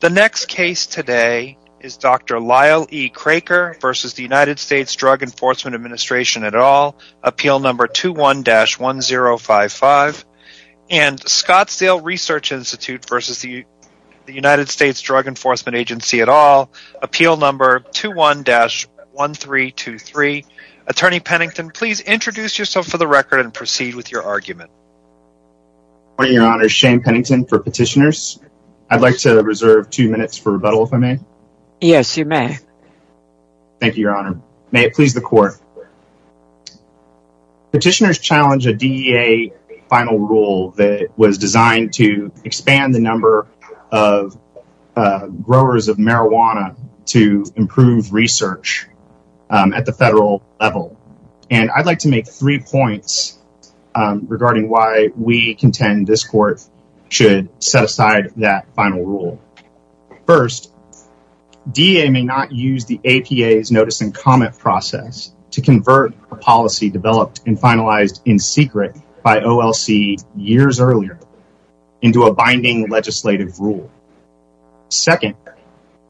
The next case today is Dr. Lyle E. Kraker v. The United States Drug Enforcement Administration et al. Appeal number 21-1055 and Scottsdale Research Institute v. The United States Drug Enforcement Agency et al. Appeal number 21-1323 Attorney Pennington, please introduce yourself for the record and proceed with your argument. Good morning, Your Honor. Shane Pennington for petitioners. I'd like to reserve two minutes for rebuttal, if I may. Yes, you may. Thank you, Your Honor. May it please the Court. Petitioners challenge a DEA final rule that was designed to expand the number of growers of marijuana to improve research at the federal level. And I'd like to make three points regarding why we contend this Court should set aside that final rule. First, DEA may not use the APA's notice and comment process to convert a policy developed and finalized in secret by OLC years earlier into a binding legislative rule. Second,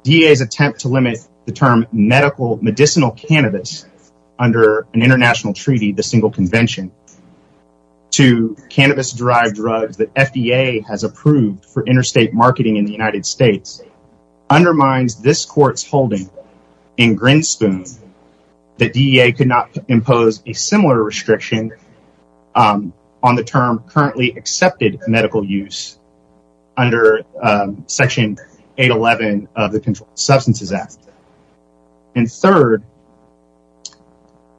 DEA's attempt to limit the term medical medicinal cannabis under an international treaty, the Single Convention, to cannabis-derived drugs that FDA has approved for interstate marketing in the United States, undermines this Court's holding in Grinspoon that DEA could not impose a similar restriction on the term currently accepted medical use under Section 811 of the Controlled Substances Act. And third,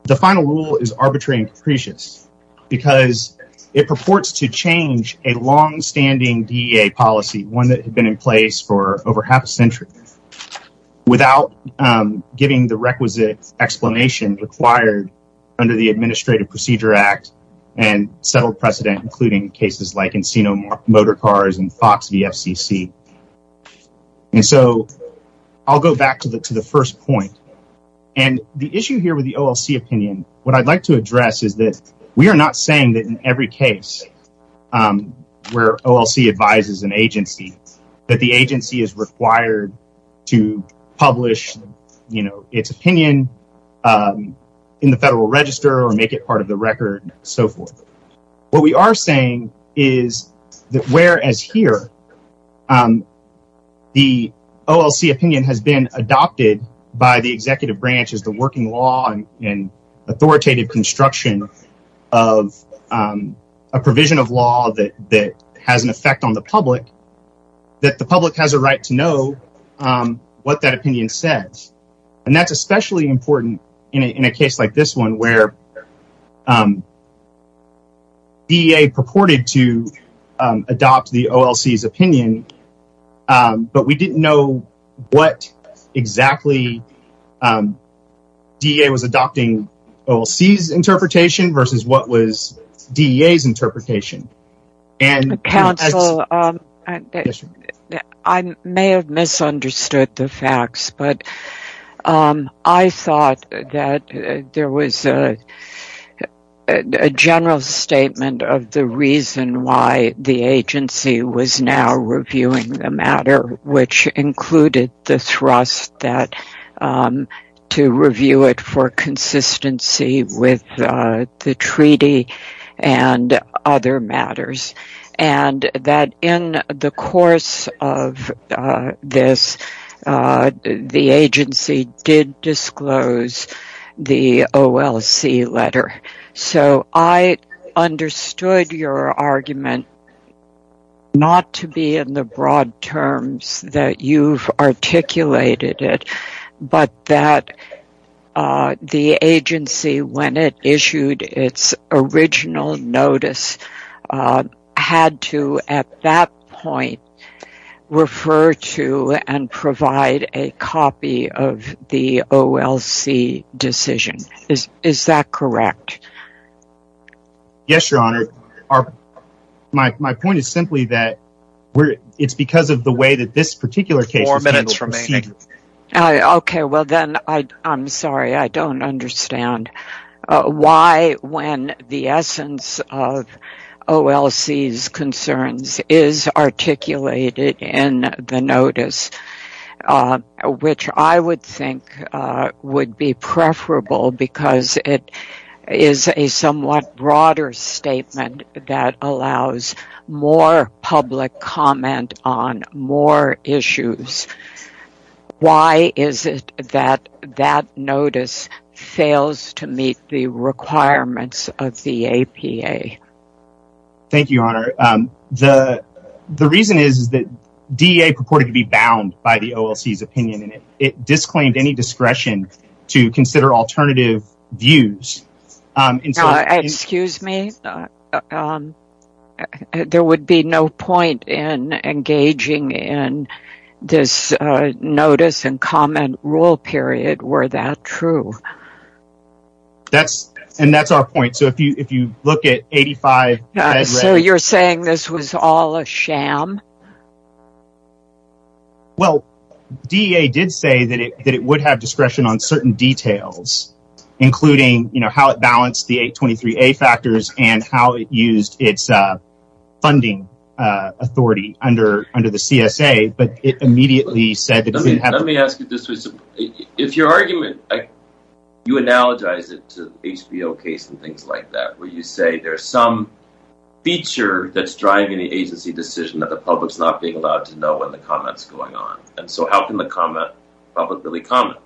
the final rule is arbitrary and capricious because it purports to change a longstanding DEA policy, one that had been in place for over half a century, without giving the requisite explanation required under the Administrative Procedure Act and settled precedent including cases like Encino Motorcars and Fox VFCC. And so, I'll go back to the first point. And the issue here with the OLC opinion, what I'd like to address is that we are not saying that in every case where OLC advises an agency, that the agency is required to publish, you know, its opinion in the Federal Register or make it part of the record and so forth. What we are saying is that whereas here, the OLC opinion has been adopted by the Executive Branch which is the working law and authoritative construction of a provision of law that has an effect on the public, that the public has a right to know what that opinion says. And that's especially important in a case like this one where DEA purported to adopt the OLC's opinion but we didn't know what exactly DEA was adopting OLC's interpretation versus what was DEA's interpretation. Counsel, I may have misunderstood the facts but I thought that there was a general statement of the reason why the agency was now reviewing the matter which included the thrust to review it for consistency with the treaty and other matters. And that in the course of this, the agency did disclose the OLC letter. So I understood your argument not to be in the broad terms that you've articulated it but that the agency, when it issued its original notice, had to at that point refer to and provide a copy of the OLC decision. Is that correct? Yes, Your Honor. My point is simply that it's because of the way that this particular case was handled. I'm sorry, I don't understand. Why, when the essence of OLC's concerns is articulated in the notice which I would think would be preferable because it is a somewhat broader statement that allows more public comment on more issues. Why is it that that notice fails to meet the requirements of the APA? Thank you, Your Honor. The reason is that DEA purported to be bound by the OLC's opinion and it disclaimed any discretion to consider alternative views. Excuse me? There would be no point in engaging in this notice and comment rule period, were that true? And that's our point. So if you look at 85… So you're saying this was all a sham? Well, DEA did say that it would have discretion on certain details including, you know, how it balanced the 823A factors and how it used its funding authority under the CSA, but it immediately said that… Let me ask you this. If your argument… You analogize it to HBO case and things like that where you say there's some feature that's driving the agency decision that the public's not being allowed to know when the comment's going on. And so how can the public really comment?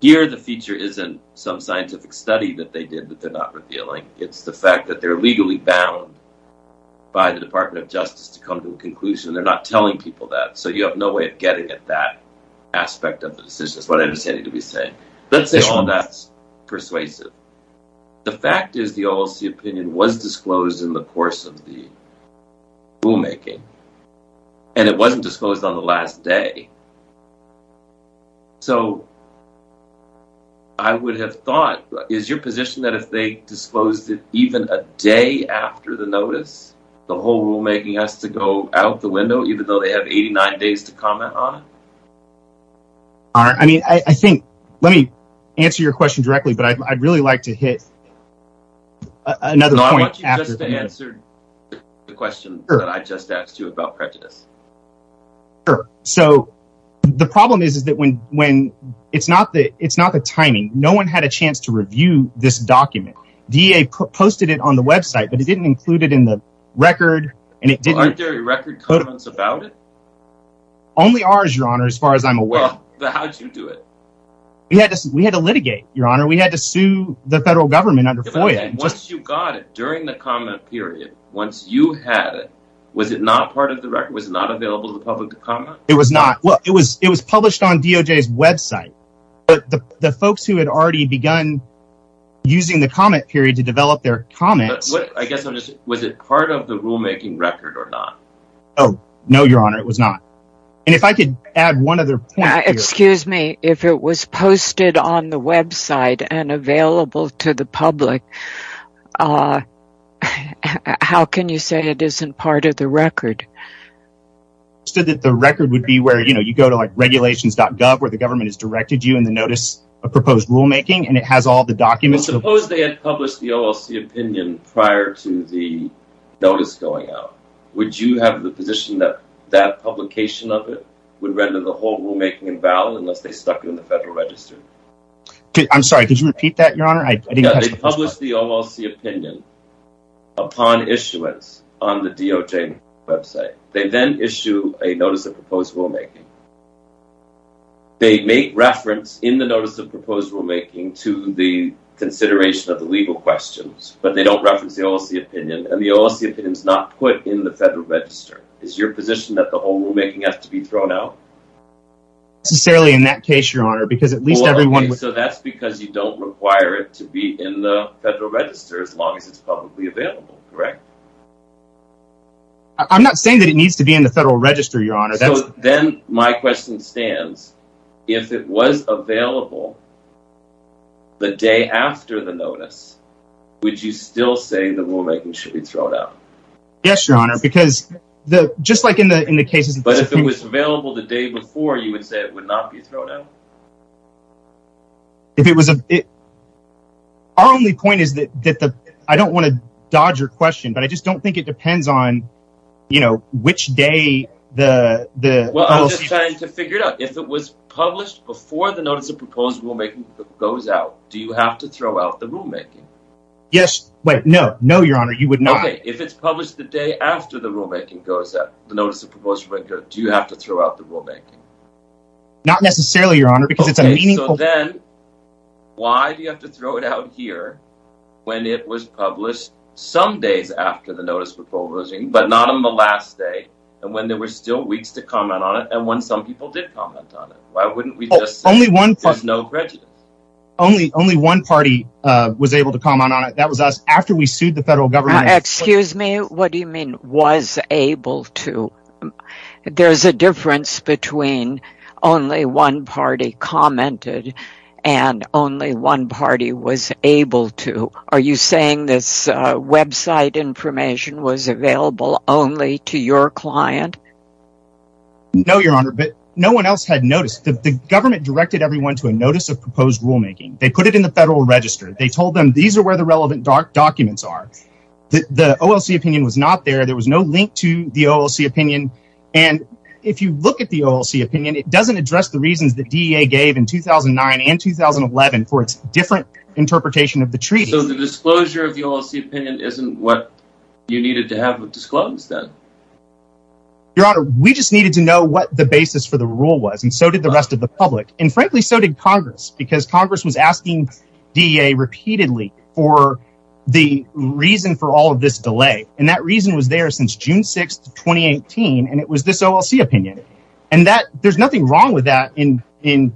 Here the feature isn't some scientific study that they did that they're not revealing. It's the fact that they're legally bound by the Department of Justice to come to a conclusion. They're not telling people that. So you have no way of getting at that aspect of the decision. That's what I'm saying. Let's say all that's persuasive. The fact is the OLC opinion was disclosed in the course of the rulemaking and it wasn't disclosed on the last day. So I would have thought… Is your position that if they disclosed it even a day after the notice the whole rulemaking has to go out the window even though they have 89 days to comment on it? Let me answer your question directly but I'd really like to hit another point. No, I want you just to answer the question that I just asked you about prejudice. Sure. So the problem is that it's not the timing. No one had a chance to review this document. DEA posted it on the website but it didn't include it in the record. Aren't there any record comments about it? Only ours, Your Honor, as far as I'm aware. But how did you do it? We had to litigate, Your Honor. We had to sue the federal government under FOIA. Once you got it during the comment period, once you had it was it not part of the record? Was it not available to the public to comment? It was not. It was published on DOJ's website. But the folks who had already begun using the comment period to develop their comments… I guess I'm just… Was it part of the rulemaking record or not? No, Your Honor. It was not. And if I could add one other point… Excuse me. If it was posted on the website and available to the public how can you say it isn't part of the record? I understood that the record would be where you go to regulations.gov where the government has directed you in the notice of proposed rulemaking and it has all the documents… Suppose they had published the OLC opinion prior to the notice going out. Would you have the position that that publication of it would render the whole rulemaking invalid unless they stuck it in the Federal Register? I'm sorry. Could you repeat that, Your Honor? They published the OLC opinion upon issuance on the DOJ website. They then issue a notice of proposed rulemaking. They make reference in the notice of proposed rulemaking to the consideration of the legal questions but they don't reference the OLC opinion and the OLC opinion is not put in the Federal Register. Is your position that the whole rulemaking has to be thrown out? Necessarily in that case, Your Honor, because at least everyone… So that's because you don't require it to be in the Federal Register as long as it's publicly available, correct? I'm not saying that it needs to be in the Federal Register, Your Honor. Then my question stands. If it was available the day after the notice would you still say the rulemaking should be thrown out? Yes, Your Honor, because just like in the cases… But if it was available the day before, you would say it would not be thrown out? If it was… Our only point is that… I don't want to dodge your question but I just don't think it depends on, you know, which day the… Well, I'm just trying to figure it out. If it was published before the notice of proposed rulemaking goes out do you have to throw out the rulemaking? Yes. Wait, no. No, Your Honor, you would not. Okay, if it's published the day after the rulemaking goes out the notice of proposed rulemaking goes out do you have to throw out the rulemaking? Not necessarily, Your Honor, because it's a meaningful… Okay, so then why do you have to throw it out here when it was published some days after the notice was published but not on the last day and when there were still weeks to comment on it and when some people did comment on it? Why wouldn't we just say there's no prejudice? Only one party was able to comment on it. That was us. After we sued the federal government… Excuse me, what do you mean was able to? There's a difference between only one party commented and only one party was able to. Are you saying this website information was available only to your client? No, Your Honor, but no one else had noticed. The government directed everyone to a notice of proposed rulemaking. They put it in the federal register. They told them these are where the relevant documents are. The OLC opinion was not there. There was no link to the OLC opinion and if you look at the OLC opinion it doesn't address the reasons that DEA gave in 2009 and 2011 for its different interpretation of the treaty. So the disclosure of the OLC opinion isn't what you needed to have disclosed then? Your Honor, we just needed to know what the basis for the rule was and so did the rest of the public and frankly so did Congress because Congress was asking DEA repeatedly for the reason for all of this delay and that reason was there since June 6, 2018 and it was this OLC opinion and there's nothing wrong with that in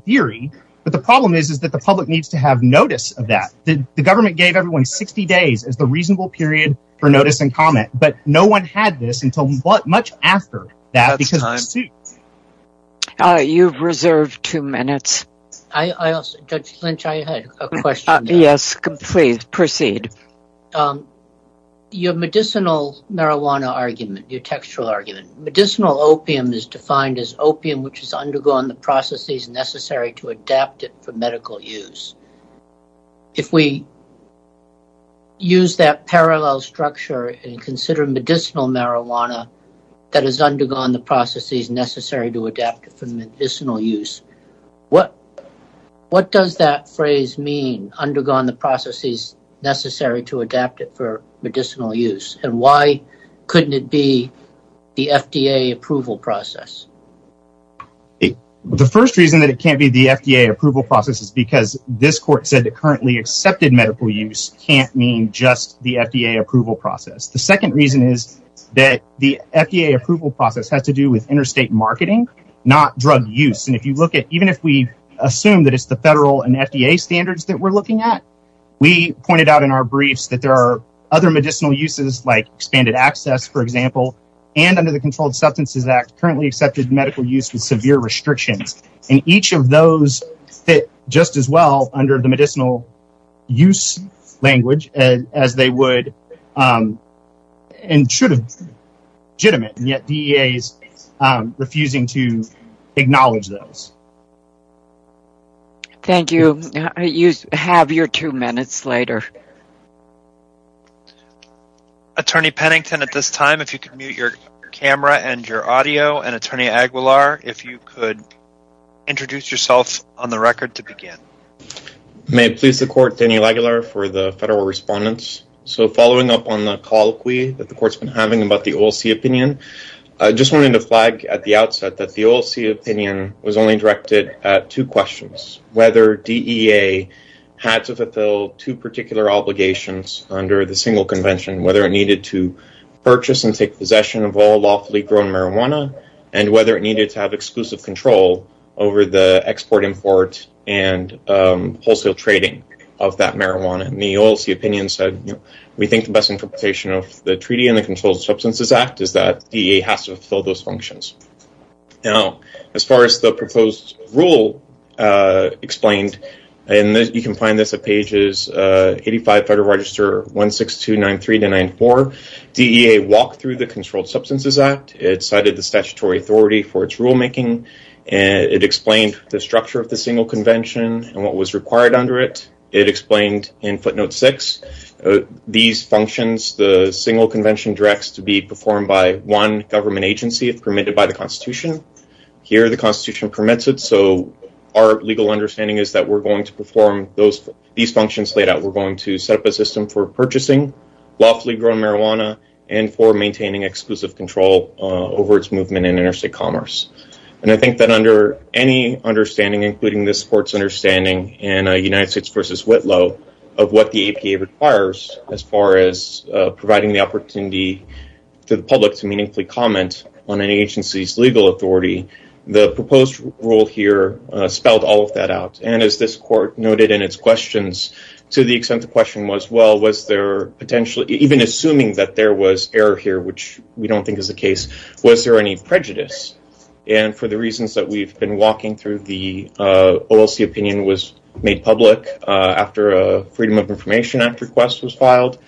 theory but the problem is that the public needs to have notice of that. The government gave everyone 60 days as the reasonable period for notice and comment but no one had this until much after that because of the suit. You have reserved two minutes. Judge Lynch, I had a question. Yes, please proceed. Your medicinal marijuana argument, your textual argument, medicinal opium is defined as opium which has undergone the processes necessary to adapt it for medical use. If we use that parallel structure and consider medicinal marijuana that has undergone the processes necessary to adapt it for medicinal use, what does that phrase mean? Undergone the processes necessary to adapt it for medicinal use and why couldn't it be the FDA approval process? The first reason that it can't be the FDA approval process is because this court said that currently accepted medical use can't mean just the FDA approval process. The second reason is that the FDA approval process has to do with interstate marketing not drug use. Even if we assume that it's the federal and FDA standards that we're looking at, we pointed out in our briefs that there are other medicinal uses like expanded access, for example, and under the Controlled Substances Act currently accepted medical use with severe restrictions and each of those fit just as well under the medicinal use language as they would and should have. The court is refusing to acknowledge those. Thank you. You have your two minutes later. Attorney Pennington, at this time, if you could mute your camera and your audio and Attorney Aguilar if you could introduce yourself on the record to begin. May it please the court, Daniel Aguilar for the federal respondents. So following up on the colloquy I wanted to flag at the outset that the OLC opinion was only directed at two questions. Whether DEA had to fulfill two particular obligations under the single convention whether it needed to purchase and take possession of all lawfully grown marijuana and whether it needed to have exclusive control over the export import and wholesale trading of that marijuana. The OLC opinion said we think the best interpretation of the treaty and the Controlled Substances Act is that DEA has to fulfill those functions. Now as far as the proposed rule explained and you can find this at pages 85 Federal Register 16293-94 DEA walked through the Controlled Substances Act it cited the statutory authority for its rulemaking it explained the structure of the single convention and in footnote 6 these functions the single convention directs to be performed by one government agency if permitted by the constitution here the constitution permits it so our legal understanding is that we're going to perform these functions laid out we're going to set up a system for purchasing lawfully grown marijuana and for maintaining exclusive control over its movement in interstate commerce. And I think that under what the APA requires as far as providing the opportunity to the public to meaningfully comment on an agency's legal authority the proposed rule here spelled all of that out and as this court noted in its questions to the extent the question was well was there potentially even assuming that there was error here which we don't think is the case was there any prejudice and for the reasons that we've been walking through the information request was filed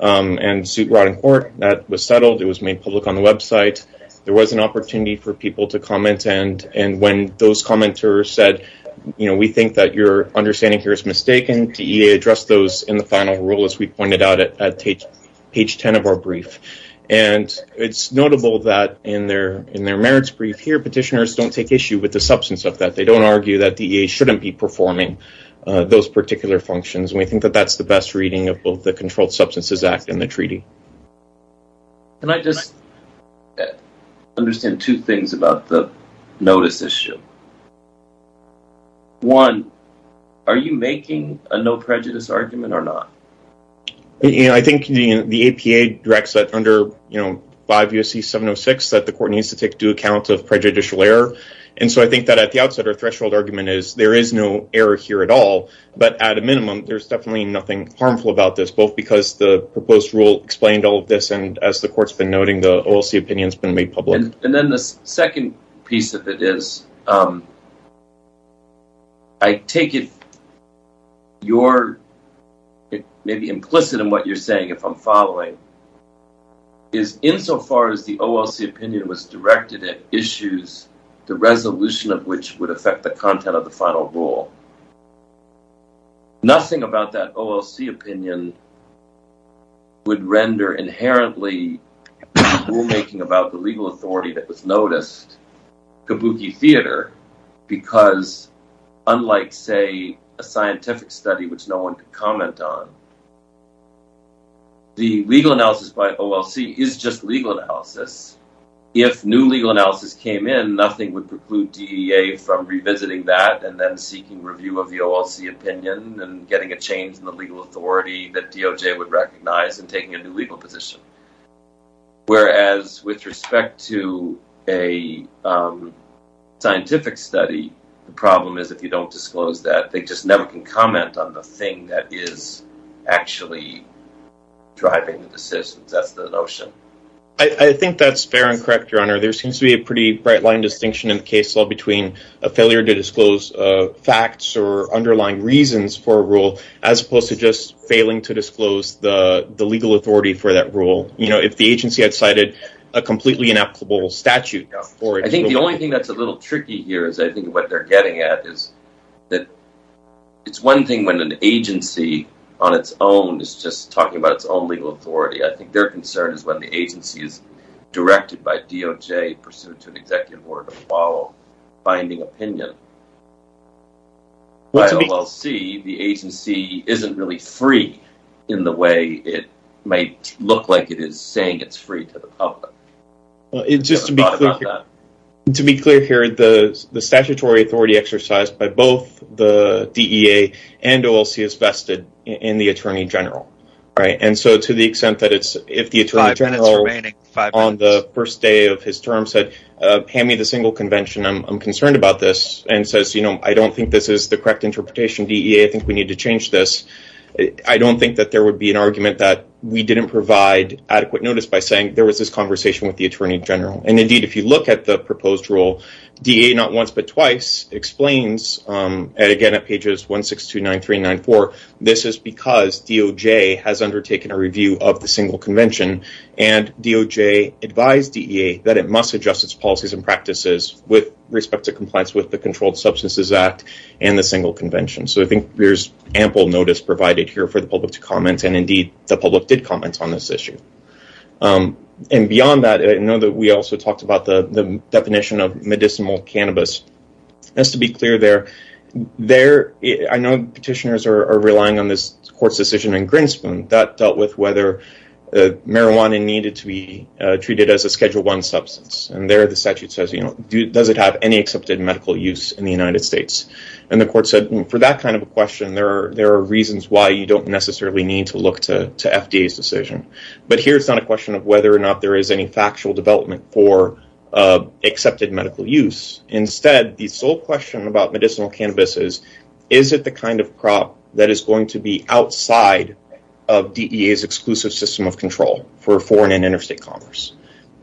and suit brought in court that was settled it was made public on the website there was an opportunity for people to comment and when those commenters said we think that your understanding here is mistaken DEA addressed those in the final rule as we pointed out at page 10 of our brief and it's notable that in their merits brief here petitioners don't take issue with the best reading of both the Controlled Substances Act and the treaty Can I just understand two things about the notice issue One are you making a no prejudice argument or not I think the APA directs that under 5 U.S.C. 706 that the court needs to take due account of prejudicial error and so I think that at the outset it's harmful about this both because the proposed rule explained all of this and as the court's been noting the OLC opinion has been made public And then the second piece of it is I take it you're maybe implicit in what you're saying if I'm following is insofar as the OLC opinion was directed at issues the resolution of which would affect the content of the final rule the OLC opinion would render inherently rulemaking about the legal authority that was noticed kabuki theater because unlike say a scientific study which no one could comment on the legal analysis by OLC is just legal analysis if new legal analysis came in nothing would preclude DEA from revisiting that and then seeking review of the OLC opinion and getting a change in the legal authority that DOJ would recognize and taking a new legal position whereas with respect to a scientific study the problem is if you don't disclose that they just never can comment on the thing that is actually driving the decisions that's the notion I think that's fair and correct your honor there seems to be a pretty bright line distinction in the case law between a failure to disclose facts or underlying reasons for a rule as opposed to just failing to disclose the legal authority for that rule if the agency had cited a completely inapplicable statute I think the only thing that's a little tricky here is I think what they're getting at is that it's one thing when an agency on its own is just talking about its own legal authority I think their concern is when the agency is directed by DOJ pursuant to an executive order to follow binding opinion by OLC the agency isn't really free in the way it might look like it is when it's just saying it's free to the public to be clear here the statutory authority exercised by both the DEA and OLC is vested in the Attorney General and so to the extent that if the Attorney General on the first day of his term said hand me the single convention I'm concerned about this and says I don't think this is the correct way to do it I think there's ample notice provided here for the public to comment and indeed go ahead and go ahead and go ahead and go ahead and go ahead and go ahead and and beyond that I know we also talked about the definition of medicinal cannabis just to be clear there there I know the petitioners are relying on this court decision in Greenspoon and there the statute says does it have any accepted medical use in the United States and the court said for that kind of a question there are reasons why you don't necessarily need to look to FDA's decision but here it's not a question of whether or not there is any factual development for accepted medical use instead the sole question about medicinal cannabis is is it the kind of crop that is going to be outside of DEA's exclusive system of control for foreign and interstate commerce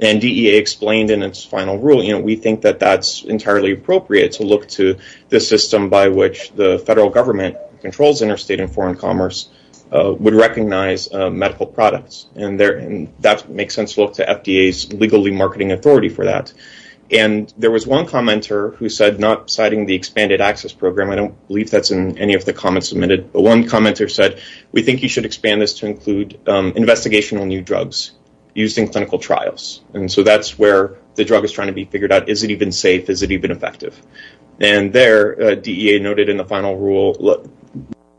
and DEA explained in its final rule you know we think that that's entirely appropriate to look to this system by which the federal government controls interstate and foreign commerce would recognize medical products and there that makes sense to look to FDA's legally marketing authority for that one commenter who said not citing the expanded access program I don't believe that's in any of the comments submitted but one commenter said we think is it even safe is it even effective and there DEA noted in the final rule look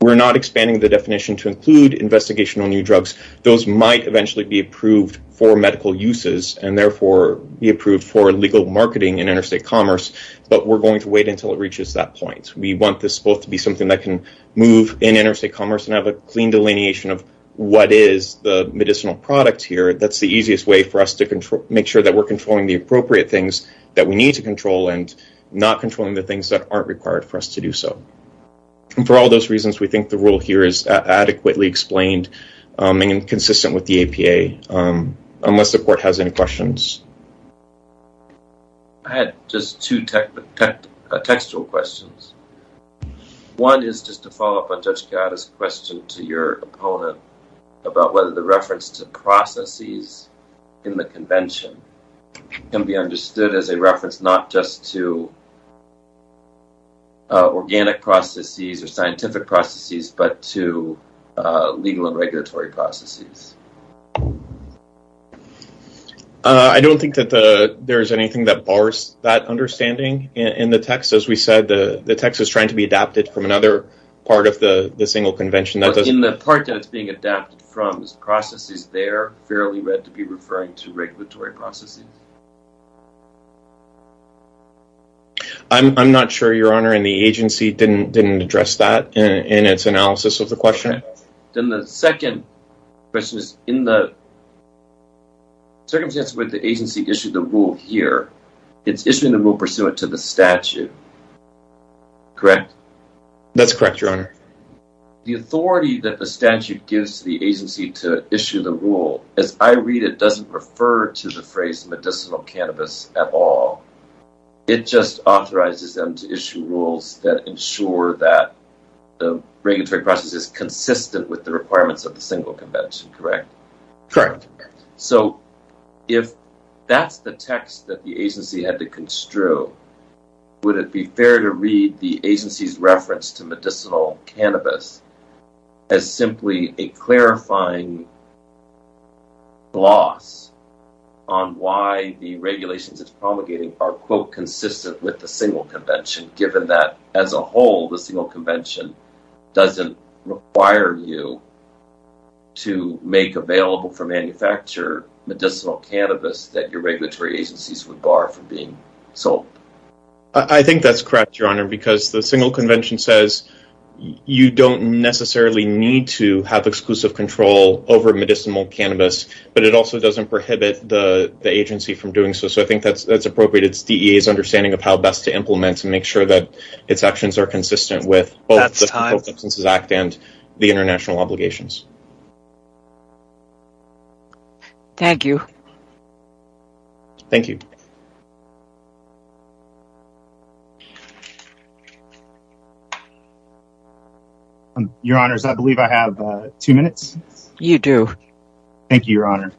we're not expanding the definition to include investigational new drugs those might eventually be approved for medical uses and therefore be approved for legal marketing in interstate commerce but we're going to wait until it reaches that point we want this both to be something that can move in interstate commerce and have a clean delineation of what is the medicinal product here that's the easiest way for us to make sure we're controlling the appropriate things that we need to control and not controlling the things that aren't required for us to do so and for all those reasons we think the rule here is adequately explained and consistent with the APA unless the court has any questions I had just two textual questions one is just to follow up on Judge Chiara's question to your opponent about whether the reference to processes in the convention can be understood as a reference not just to organic processes or scientific processes but to legal and regulatory processes I don't think that there is anything that bars that understanding in the text as we said the text is trying to be adapted from another part of the single convention but in the part that it's being adapted from is processes they are fairly read to be referring to regulatory processes I'm not sure your honor and the agency didn't address that in its analysis of the question then the second question is in the circumstance with the agency issued the rule here it's issuing the rule pursuant to the statute correct? that's correct your honor the authority that the statute gives the agency to issue the rule as I read it doesn't refer to the phrase medicinal cannabis at all it just authorizes them to issue rules that ensure that the regulatory process is consistent with the requirements of the single convention correct? correct so if that's the text that the agency had to construe would it be fair to read the agency's reference to medicinal cannabis as simply a clarifying gloss on why the regulations it's promulgating are quote consistent with the single convention given that as a whole the single convention doesn't require you to make available for manufacture medicinal cannabis that your regulatory agencies would bar from being sold I think that's correct your honor because the single convention says you don't necessarily need to have exclusive control over medicinal cannabis but it also doesn't prohibit the agency from doing so so I think that's appropriate it's DEA's understanding of how best to implement and make sure that it's actions are consistent with both the single and the single convention thank you your honors I believe I have two minutes you do thank you your honor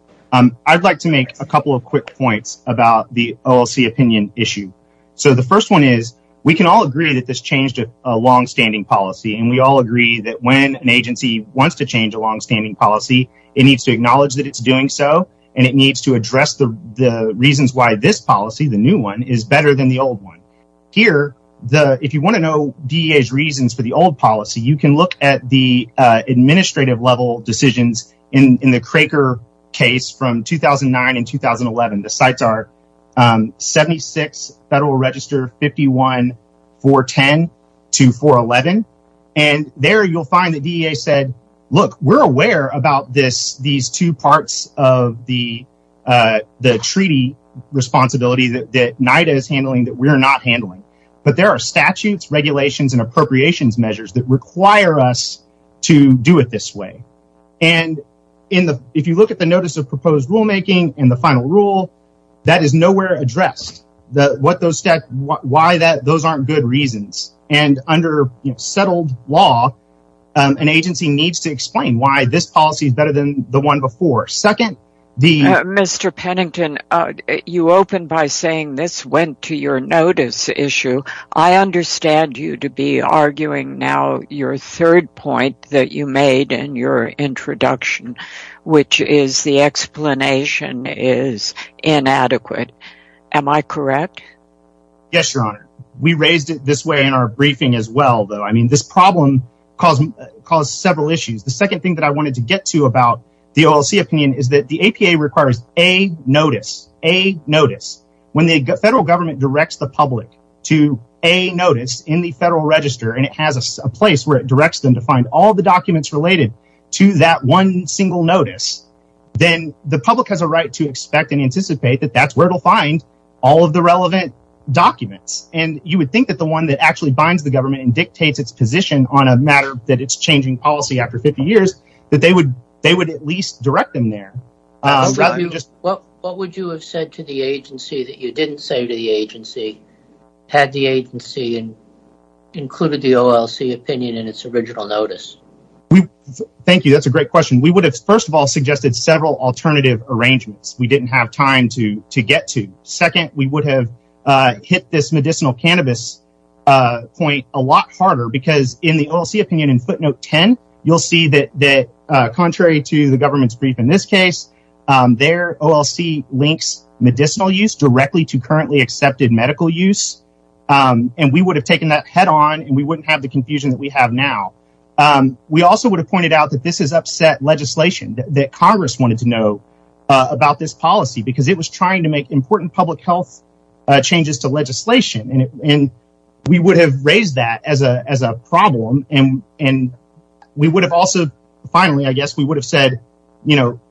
I'd like to make a couple of quick points about the OLC opinion issue so the first one is we can all agree that this changed a long-standing policy and we all agree that when an agency wants to change a long-standing policy it needs to acknowledge that it's doing so and it needs to address the reasons why this policy the new one is better than the old one here if you want to know DEA's reasons for the old policy you can look at the OLC policy and look we're aware about these two parts of the treaty responsibility that NIDA is handling that we're not handling but there are statutes regulations and appropriations measures that require us to do it this way and if you look at the notice of proposed rule making and the OLC policy it needs to explain why this policy is better than the one before. Second Mr. Pennington you opened by saying this went to your notice issue. I understand you to be arguing now your third point that you made in your introduction which is the explanation is inadequate. Am I correct? Yes your honor. We raised it this way in our briefing as well. This problem caused several issues. The second thing I wanted to get to is that the APA requires a notice when the federal government directs the make a single notice. Then the public has a right to expect and anticipate that that's where it will find all of the relevant documents. And you would think that the one that actually binds the government and dictates its position on a matter that is changing policy after 50 years that they would at least direct them there. What would you have said to the agency that you didn't say to the agency had the agency included the OLC opinion in its original notice? Thank you. That's a great question. We would have suggested several alternative arrangements. We didn't have time to get to. Second, we would have hit this medicinal cannabis point a lot harder because in the OLC footnote 10, you'll see that contrary to the government's brief in this case, their OLC links medicinal use directly to currently in place. We would have raised that as a problem. Finally, we would have said,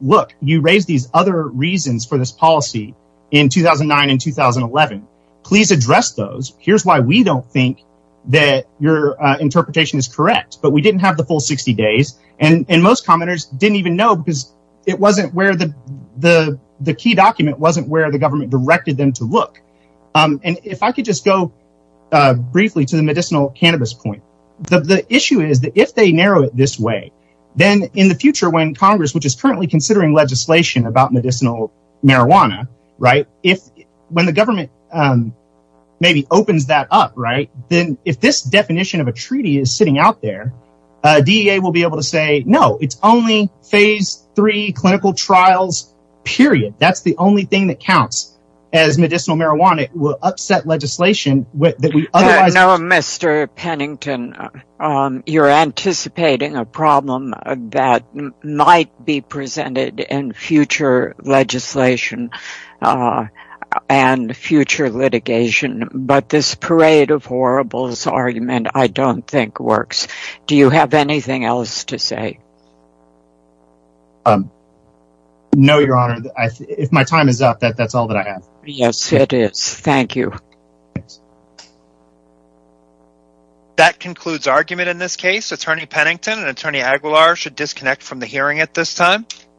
look, you raised these other reasons for this policy in 2009 and 2011. Please address those. Here's why we don't think that your interpretation is correct. We didn't have the full 60 days. Most commenters didn't even know because the key document wasn't where the government directed them to look. If I could go briefly to the medicinal cannabis point, if they narrow it this way, when Congress is considering legislation about medicinal marijuana, when the government maybe opens that up, if this only phase three clinical trials, period, that's the only thing that counts as medicinal marijuana, it will upset legislation that we otherwise know. Mr. Pennington, you're anticipating a problem that might be presented in future legislation and future litigation, but this is time for that. Pennington, you're be presented and future litigation, but this is not the time for that. Mr. Pennington, you're anticipating a problem that might be presented in future litigation.